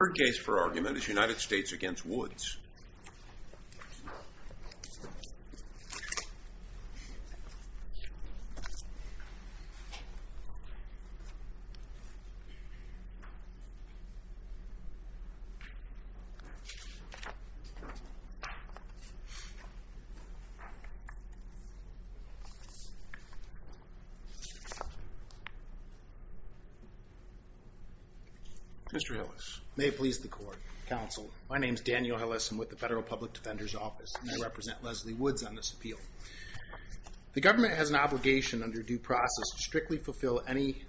Our case for argument is United States v. Woods. Mr. Hillis. May it please the court. Counsel, my name is Daniel Hillis. I'm with the Federal Public Defender's Office. I represent Leslie Woods on this appeal. The government has an obligation under due process to strictly fulfill any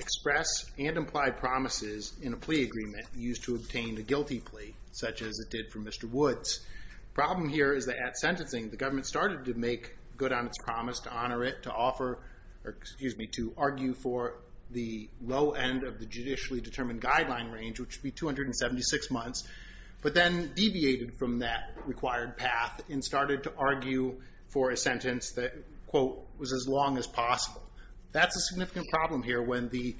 express and implied promises in a plea agreement used to obtain a guilty plea, such as it did for Mr. Woods. The problem here is that at sentencing, the government started to make good on its promise to honor it, to argue for the low end of the judicially determined guideline range, which would be 276 months, but then deviated from that required path and started to argue for a sentence that, quote, was as long as possible. That's a significant problem here when the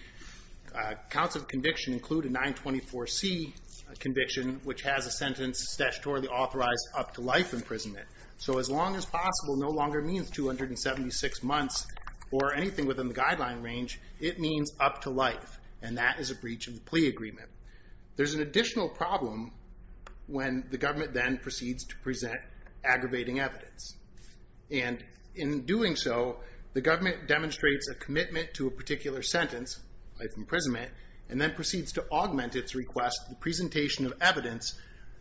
counts of conviction include a 924C conviction, which has a sentence statutorily authorized up to life imprisonment. So as long as possible no longer means 276 months or anything within the guideline range. It means up to life, and that is a breach of the plea agreement. There's an additional problem when the government then proceeds to present aggravating evidence. And in doing so, the government demonstrates a commitment to a particular sentence, life imprisonment, and then proceeds to augment its request, the presentation of evidence,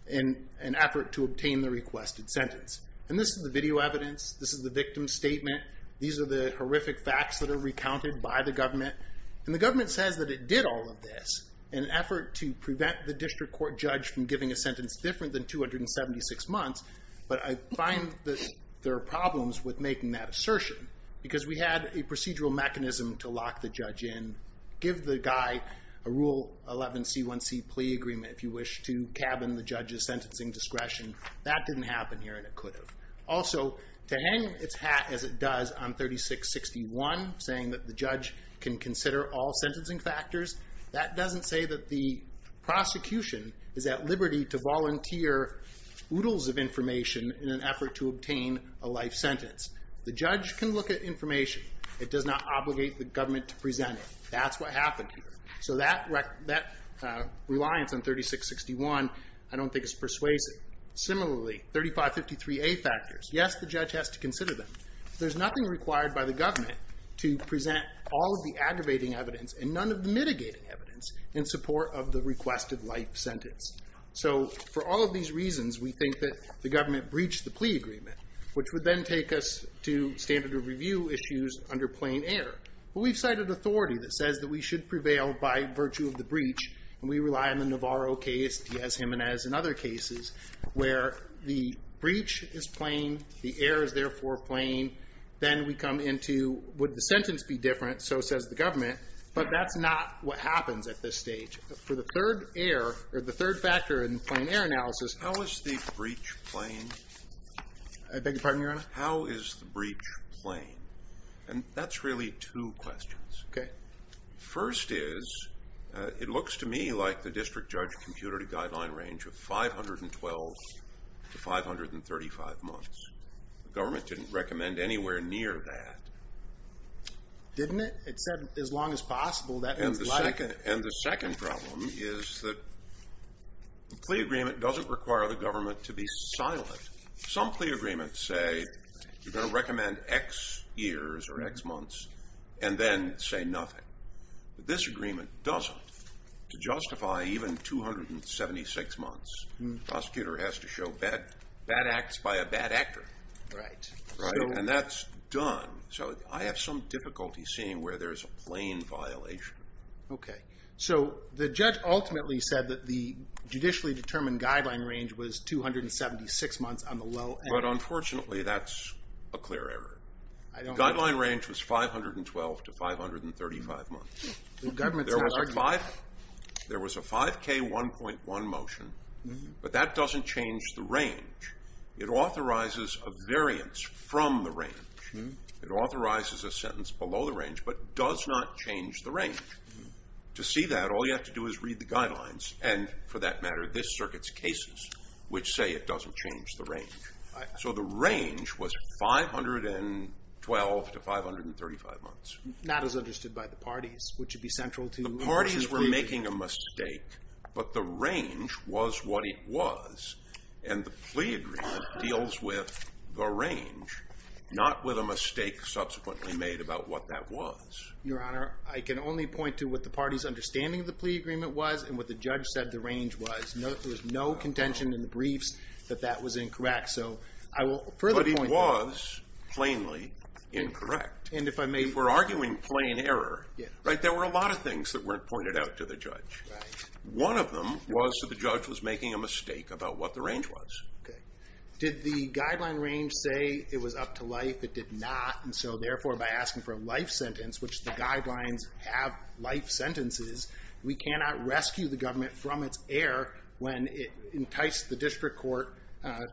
in an effort to obtain the requested sentence. And this is the video evidence. This is the victim's statement. These are the horrific facts that are recounted by the government. And the government says that it did all of this in an effort to prevent the district court judge from giving a sentence different than 276 months. But I find that there are problems with making that assertion. Because we had a procedural mechanism to lock the judge in, give the guy a Rule 11C1C plea agreement, if you wish, to cabin the judge's sentencing discretion. That didn't happen here, and it could have. Also, to hang its hat as it does on 3661, saying that the judge can consider all sentencing factors, that doesn't say that the prosecution is at liberty to volunteer oodles of information in an effort to obtain a life sentence. The judge can look at information. It does not obligate the government to present it. That's what happened here. So that reliance on 3661, I don't think is persuasive. Similarly, 3553A factors. Yes, the judge has to consider them. There's nothing required by the government to present all of the aggravating evidence and none of the mitigating evidence in support of the requested life sentence. So for all of these reasons, we think that the government breached the plea agreement, which would then take us to standard of review issues under plain air. But we've cited authority that says that we should prevail by virtue of the breach. And we rely on the Navarro case, Diaz-Jimenez, and other cases where the breach is plain, the air is therefore plain. Then we come into, would the sentence be different? So says the government. But that's not what happens at this stage. For the third air, or the third factor in plain air analysis. How is the breach plain? I beg your pardon, Your Honor? How is the breach plain? And that's really two questions. Okay. First is, it looks to me like the district judge computed a guideline range of 512 to 535 months. The government didn't recommend anywhere near that. Didn't it? It said as long as possible. And the second problem is that the plea agreement doesn't require the government to be silent. Some plea agreements say you're going to recommend X years or X months and then say nothing. But this agreement doesn't. To justify even 276 months, the prosecutor has to show bad acts by a bad actor. Right. And that's done. So I have some difficulty seeing where there's a plain violation. Okay. So the judge ultimately said that the judicially determined guideline range was 276 months on the low end. But unfortunately that's a clear error. The guideline range was 512 to 535 months. There was a 5K1.1 motion. But that doesn't change the range. It authorizes a variance from the range. It authorizes a sentence below the range, but does not change the range. To see that, all you have to do is read the guidelines and, for that matter, this circuit's cases, which say it doesn't change the range. So the range was 512 to 535 months. Not as understood by the parties, which would be central to the plea agreement. The parties were making a mistake, but the range was what it was. And the plea agreement deals with the range, not with a mistake subsequently made about what that was. Your Honor, I can only point to what the parties' understanding of the plea agreement was and what the judge said the range was. There was no contention in the briefs that that was incorrect. So I will further point that. But it was plainly incorrect. If we're arguing plain error, there were a lot of things that weren't pointed out to the judge. Right. One of them was that the judge was making a mistake about what the range was. Okay. Did the guideline range say it was up to life? It did not. And so, therefore, by asking for a life sentence, which the guidelines have life sentences, we cannot rescue the government from its error when it enticed the district court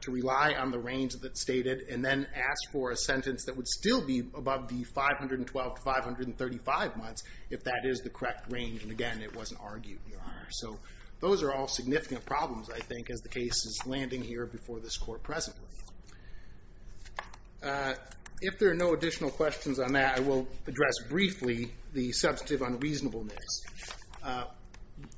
to rely on the range that's stated and then ask for a sentence that would still be above the 512 to 535 months if that is the correct range. And again, it wasn't argued, Your Honor. So those are all significant problems, I think, as the case is landing here before this court presently. If there are no additional questions on that, I will address briefly the substantive unreasonableness.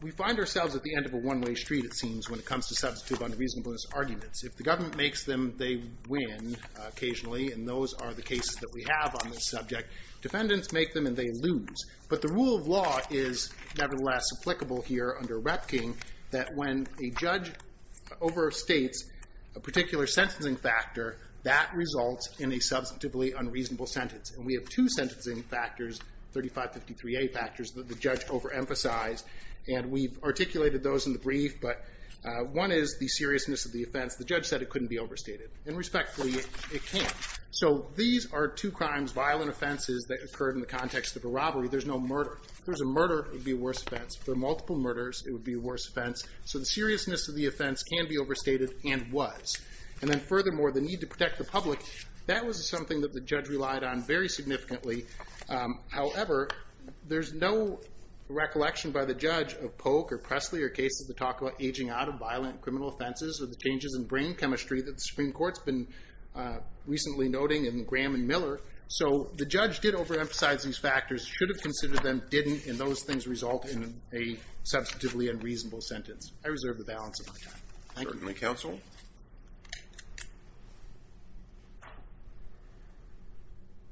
We find ourselves at the end of a one-way street, it seems, when it comes to substantive unreasonableness arguments. If the government makes them, they win occasionally, and those are the cases that we have on this subject. Defendants make them and they lose. But the rule of law is nevertheless applicable here under Repking that when a judge overstates a particular sentencing factor, that results in a substantively unreasonable sentence. And we have two sentencing factors, 3553A factors, that the judge overemphasized, and we've articulated those in the brief, but one is the seriousness of the offense. The judge said it couldn't be overstated, and respectfully, it can't. So these are two crimes, violent offenses, that occurred in the context of a robbery. There's no murder. If there was a murder, it would be a worse offense. If there were multiple murders, it would be a worse offense. So the seriousness of the offense can be overstated and was. And then furthermore, the need to protect the public, that was something that the judge relied on very significantly. However, there's no recollection by the judge of Polk or Presley or cases that talk about aging out of violent criminal offenses or the changes in brain chemistry that the Supreme Court's been recently noting in Graham and Miller. So the judge did overemphasize these factors, should have considered them, didn't, and those things result in a substantively unreasonable sentence. I reserve the balance of my time. Thank you. Certainly, counsel.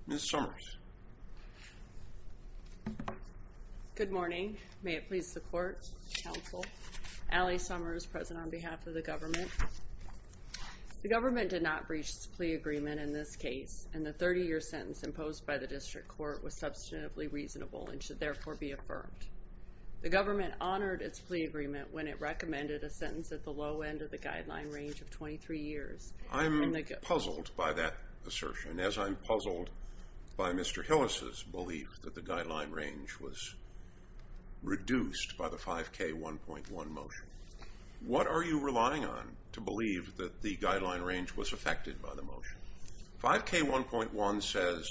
Ms. Summers. Good morning. May it please the court, counsel. Allie Summers, present on behalf of the government. The government did not breach the plea agreement in this case. And the 30-year sentence imposed by the district court was substantively reasonable and should therefore be affirmed. The government honored its plea agreement when it recommended a sentence at the low end of the guideline range of 23 years. I'm puzzled by that assertion, as I'm puzzled by Mr. Hillis' belief that the guideline range was reduced by the 5K1.1 motion. What are you relying on to believe that the guideline range was affected by the motion? 5K1.1 says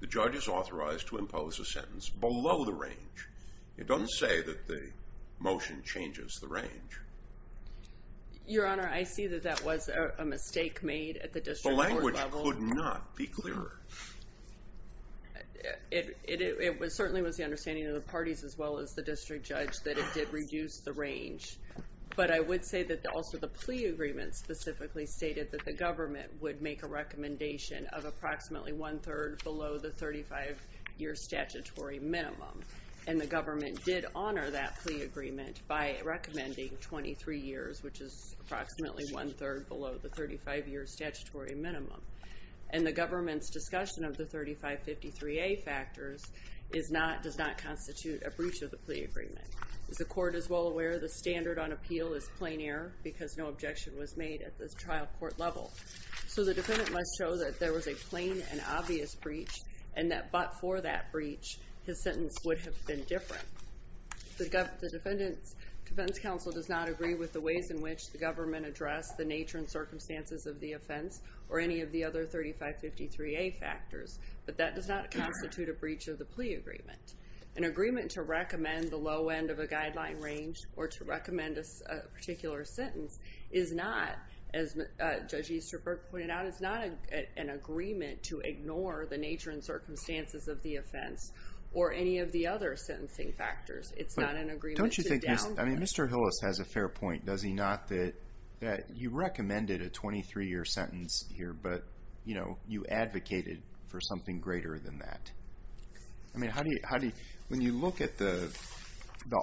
the judge is authorized to impose a sentence below the range. It doesn't say that the motion changes the range. Your Honor, I see that that was a mistake made at the district court level. The language could not be clearer. It certainly was the understanding of the parties as well as the district judge that it did reduce the range. But I would say that also the plea agreement specifically stated that the government would make a recommendation of approximately one-third below the 35-year statutory minimum. And the government did honor that plea agreement by recommending 23 years, which is approximately one-third below the 35-year statutory minimum. And the government's discussion of the 3553A factors does not constitute a breach of the plea agreement. As the court is well aware, the standard on appeal is plain error because no objection was made at the trial court level. So the defendant must show that there was a plain and obvious breach and that but for that breach, his sentence would have been different. The defense counsel does not agree with the ways in which the government addressed the nature and circumstances of the offense or any of the other 3553A factors, but that does not constitute a breach of the plea agreement. An agreement to recommend the low end of a guideline range or to recommend a particular sentence is not, as Judge Easterberg pointed out, is not an agreement to ignore the nature and circumstances of the offense or any of the other sentencing factors. It's not an agreement to downplay. But don't you think Mr. Hillis has a fair point, does he not, that you recommended a 23-year sentence here, but you advocated for something greater than that? I mean, how do you, when you look at the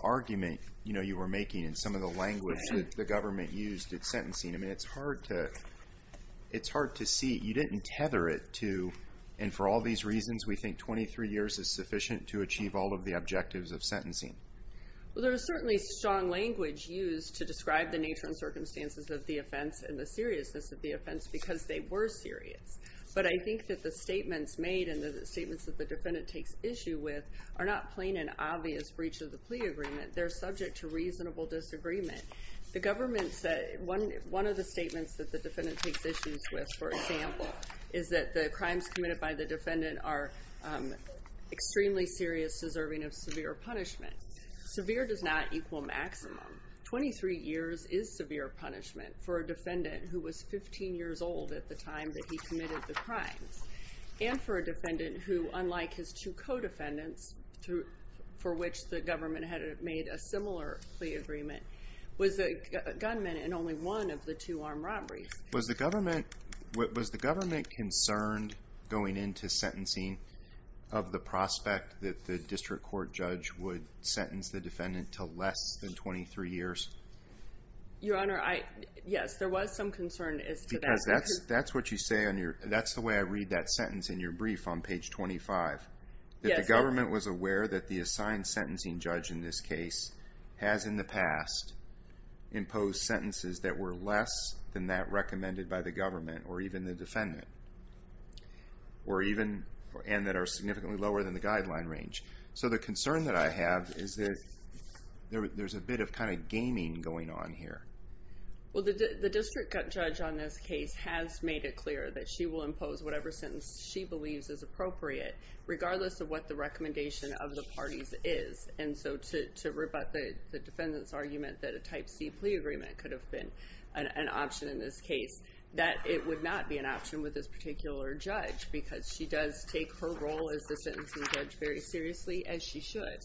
argument, you know, you were making in some of the language that the government used at sentencing, I mean, it's hard to, it's hard to see. You didn't tether it to, and for all these reasons, we think 23 years is sufficient to achieve all of the objectives of sentencing. Well, there is certainly strong language used to describe the nature and circumstances of the offense and the seriousness of the offense because they were serious. But I think that the statements made and the statements that the defendant takes issue with are not plain and obvious breach of the plea agreement. They're subject to reasonable disagreement. The government said, one of the statements that the defendant takes issues with, for example, is that the crimes committed by the defendant are extremely serious deserving of severe punishment. Severe does not equal maximum. 23 years is severe punishment for a defendant who was 15 years old at the time that he committed the crimes and for a defendant who, unlike his two co-defendants, for which the government had made a similar plea agreement, was a gunman in only one of the two armed robberies. Was the government, was the government concerned going into sentencing of the prospect that the district court judge would sentence the defendant to less than 23 years? Your Honor, yes, there was some concern as to that. Because that's what you say on your, that's the way I read that sentence in your brief on page 25. That the government was aware that the assigned sentencing judge in this case has in the past imposed sentences that were less than that recommended by the government or even the defendant or even, and that are significantly lower than the guideline range. So the concern that I have is that there's a bit of kind of gaming going on here. Well, the district judge on this case has made it clear that she will impose whatever sentence she believes is appropriate regardless of what the recommendation of the parties is. And so to rebut the defendant's argument that a type C plea agreement could have been an option in this case, that it would not be an option with this particular judge. Because she does take her role as the sentencing judge very seriously, as she should.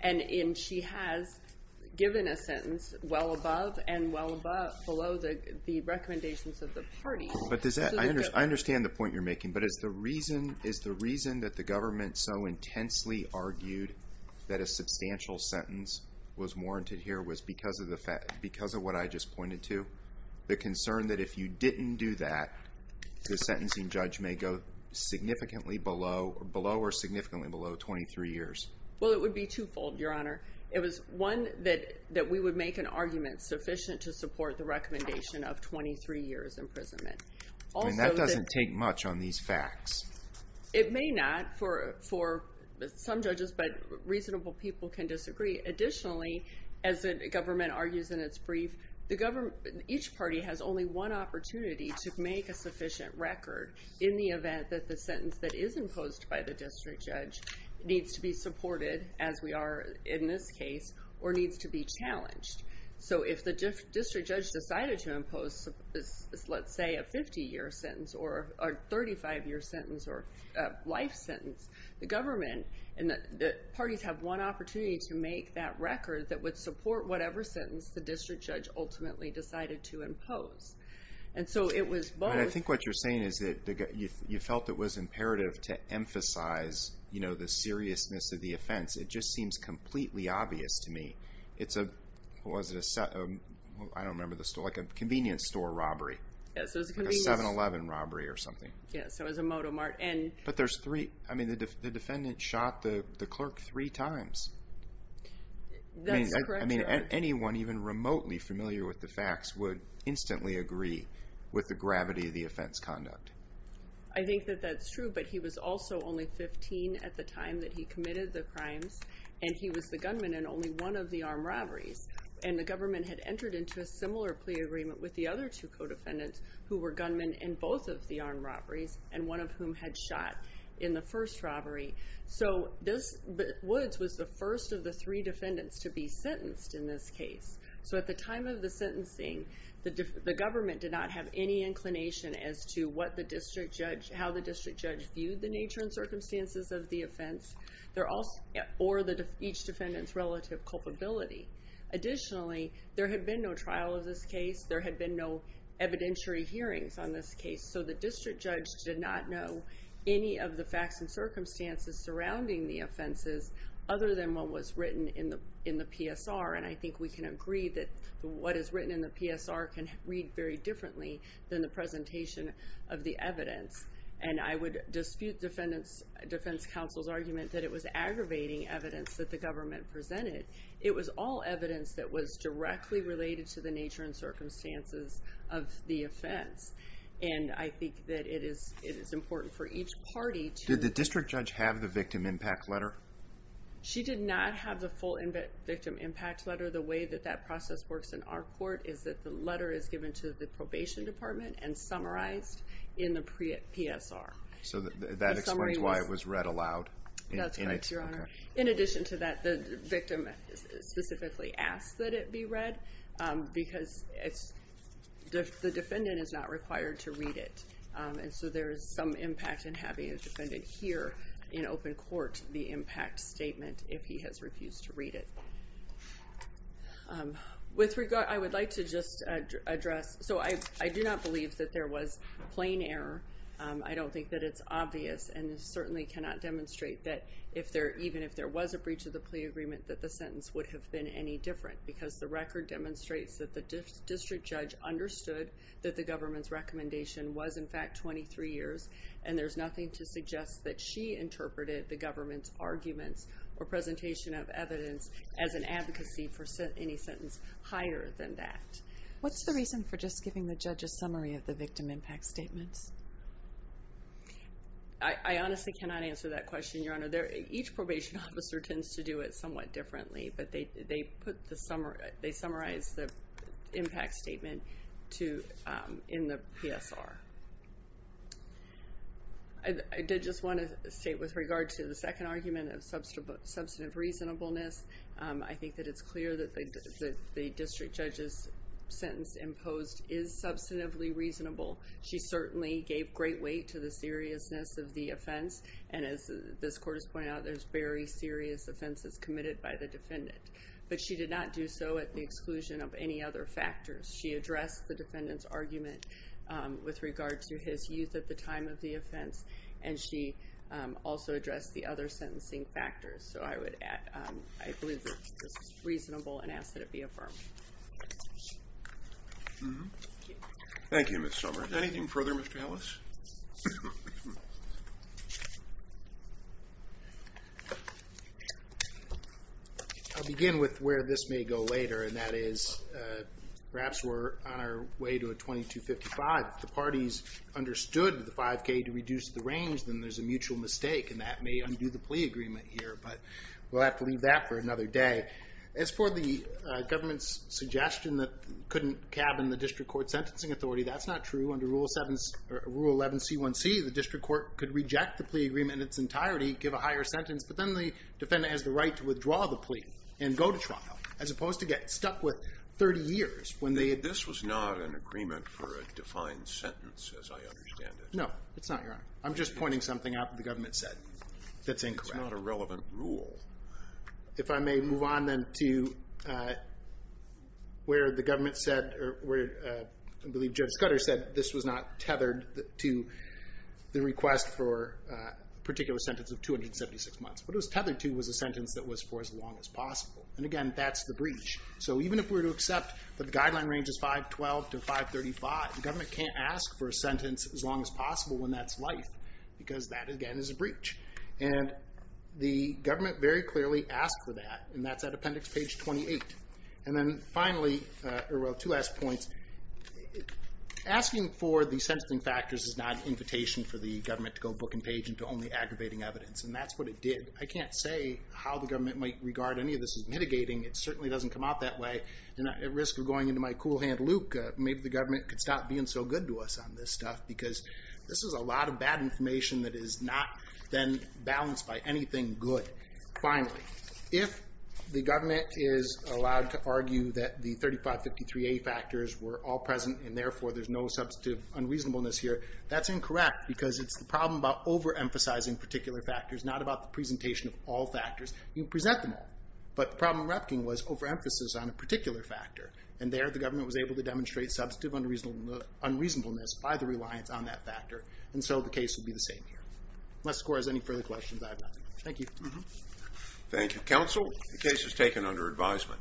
And she has given a sentence well above and well below the recommendations of the parties. But does that, I understand the point you're making. But is the reason, is the reason that the government so intensely argued that a substantial sentence was warranted here was because of what I just pointed to? The concern that if you didn't do that, the sentencing judge may go significantly below or significantly below 23 years. Well, it would be twofold, Your Honor. It was one that we would make an argument sufficient to support the recommendation of 23 years imprisonment. And that doesn't take much on these facts. It may not for some judges, but reasonable people can disagree. Additionally, as the government argues in its brief, each party has only one opportunity to make a sufficient record in the event that the sentence that is imposed by the district judge needs to be supported, as we are in this case, or needs to be challenged. So if the district judge decided to impose, let's say, a 50-year sentence or a 35-year sentence or a life sentence, the government and the parties have one opportunity to make that record that would support whatever sentence the district judge ultimately decided to impose. And so it was both... But I think what you're saying is that you felt it was imperative to emphasize, you know, the seriousness of the offense. It just seems completely obvious to me. It's a, what was it, a, I don't remember the store, like a convenience store robbery. Yes, it was a convenience... A 7-Eleven robbery or something. Yes, it was a Moto Mart, and... But there's three, I mean, the defendant shot the clerk three times. That's correct. I mean, anyone, even remotely familiar with the facts, would instantly agree with the gravity of the offense conduct. I think that that's true, but he was also only 15 at the time that he committed the crimes, and he was the gunman in only one of the armed robberies. And the government had entered into a similar plea agreement with the other two co-defendants who were gunmen in both of the armed robberies, and one of whom had shot in the first robbery. So Woods was the first of the three defendants to be sentenced in this case. So at the time of the sentencing, the government did not have any inclination as to what the district judge, how the district judge viewed the nature and circumstances of the offense, or each defendant's relative culpability. Additionally, there had been no trial of this case. There had been no evidentiary hearings on this case. So the district judge did not know any of the facts and circumstances surrounding the offenses other than what was written in the PSR. And I think we can agree that what is written in the PSR can read very differently than the presentation of the evidence. And I would dispute defense counsel's argument that it was aggravating evidence that the government presented. It was all evidence that was directly related to the nature and circumstances of the offense. And I think that it is important for each party to... Did the district judge have the victim impact letter? She did not have the full victim impact letter. The way that that process works in our court is that the letter is given to the probation department and summarized in the PSR. So that explains why it was read aloud? That's correct, Your Honor. In addition to that, the victim specifically asked that it be read because the defendant is not required to read it. And so there is some impact in having a defendant hear in open court the impact statement if he has refused to read it. With regard, I would like to just address... So I do not believe that there was plain error. I don't think that it's obvious and certainly cannot demonstrate that even if there was a breach of the plea agreement, that the sentence would have been any different because the record demonstrates that the district judge understood that the government's recommendation was, in fact, 23 years. And there's nothing to suggest that she interpreted the government's arguments or presentation of evidence as an advocacy for any sentence higher than that. What's the reason for just giving the judge a summary of the victim impact statements? I honestly cannot answer that question, Your Honor. Each probation officer tends to do it somewhat differently, but they summarize the impact statement in the PSR. I did just want to state with regard to the second argument of substantive reasonableness, I think that it's clear that the district judge's sentence imposed is substantively reasonable. She certainly gave great weight to the seriousness of the offense. And as this court has pointed out, there's very serious offenses committed by the defendant. But she did not do so at the exclusion of any other factors. She addressed the defendant's argument with regard to his youth at the time of the offense, and she also addressed the other sentencing factors. So I believe that this is reasonable and ask that it be affirmed. Thank you, Ms. Sommer. Anything further, Mr. Ellis? I'll begin with where this may go later, and that is perhaps we're on our way to a 2255. If the parties understood the 5K to reduce the range, then there's a mutual mistake, and that may undo the plea agreement here. But we'll have to leave that for another day. As for the government's suggestion that couldn't cabin the district court sentencing authority, that's not true. Under Rule 11C1C, the district court could reject the plea agreement in its entirety, give a higher sentence, but then the defendant has the right to withdraw the plea and go to trial, as opposed to get stuck with 30 years. This was not an agreement for a defined sentence, as I understand it. No, it's not, Your Honor. I'm just pointing something out that the government said that's incorrect. It's not a relevant rule. If I may move on then to where the government said or where I believe Judge Scudder said this was not tethered to the request for a particular sentence of 276 months. What it was tethered to was a sentence that was for as long as possible. And, again, that's the breach. So even if we were to accept that the guideline range is 512 to 535, the government can't ask for a sentence as long as possible when that's life, because that, again, is a breach. And the government very clearly asked for that, and that's at Appendix Page 28. And then, finally, two last points. Asking for the sentencing factors is not an invitation for the government to go book and page into only aggravating evidence, and that's what it did. I can't say how the government might regard any of this as mitigating. It certainly doesn't come out that way. At risk of going into my cool hand Luke, maybe the government could stop being so good to us on this stuff because this is a lot of bad information that is not then balanced by anything good. Finally, if the government is allowed to argue that the 3553A factors were all present and, therefore, there's no substantive unreasonableness here, that's incorrect because it's the problem about overemphasizing particular factors, not about the presentation of all factors. You can present them all, but the problem with Repkin was overemphasis on a particular factor, and there the government was able to demonstrate substantive unreasonableness by the reliance on that factor, and so the case would be the same here. Unless the court has any further questions, I have nothing. Thank you. Thank you, counsel. The case is taken under advisement.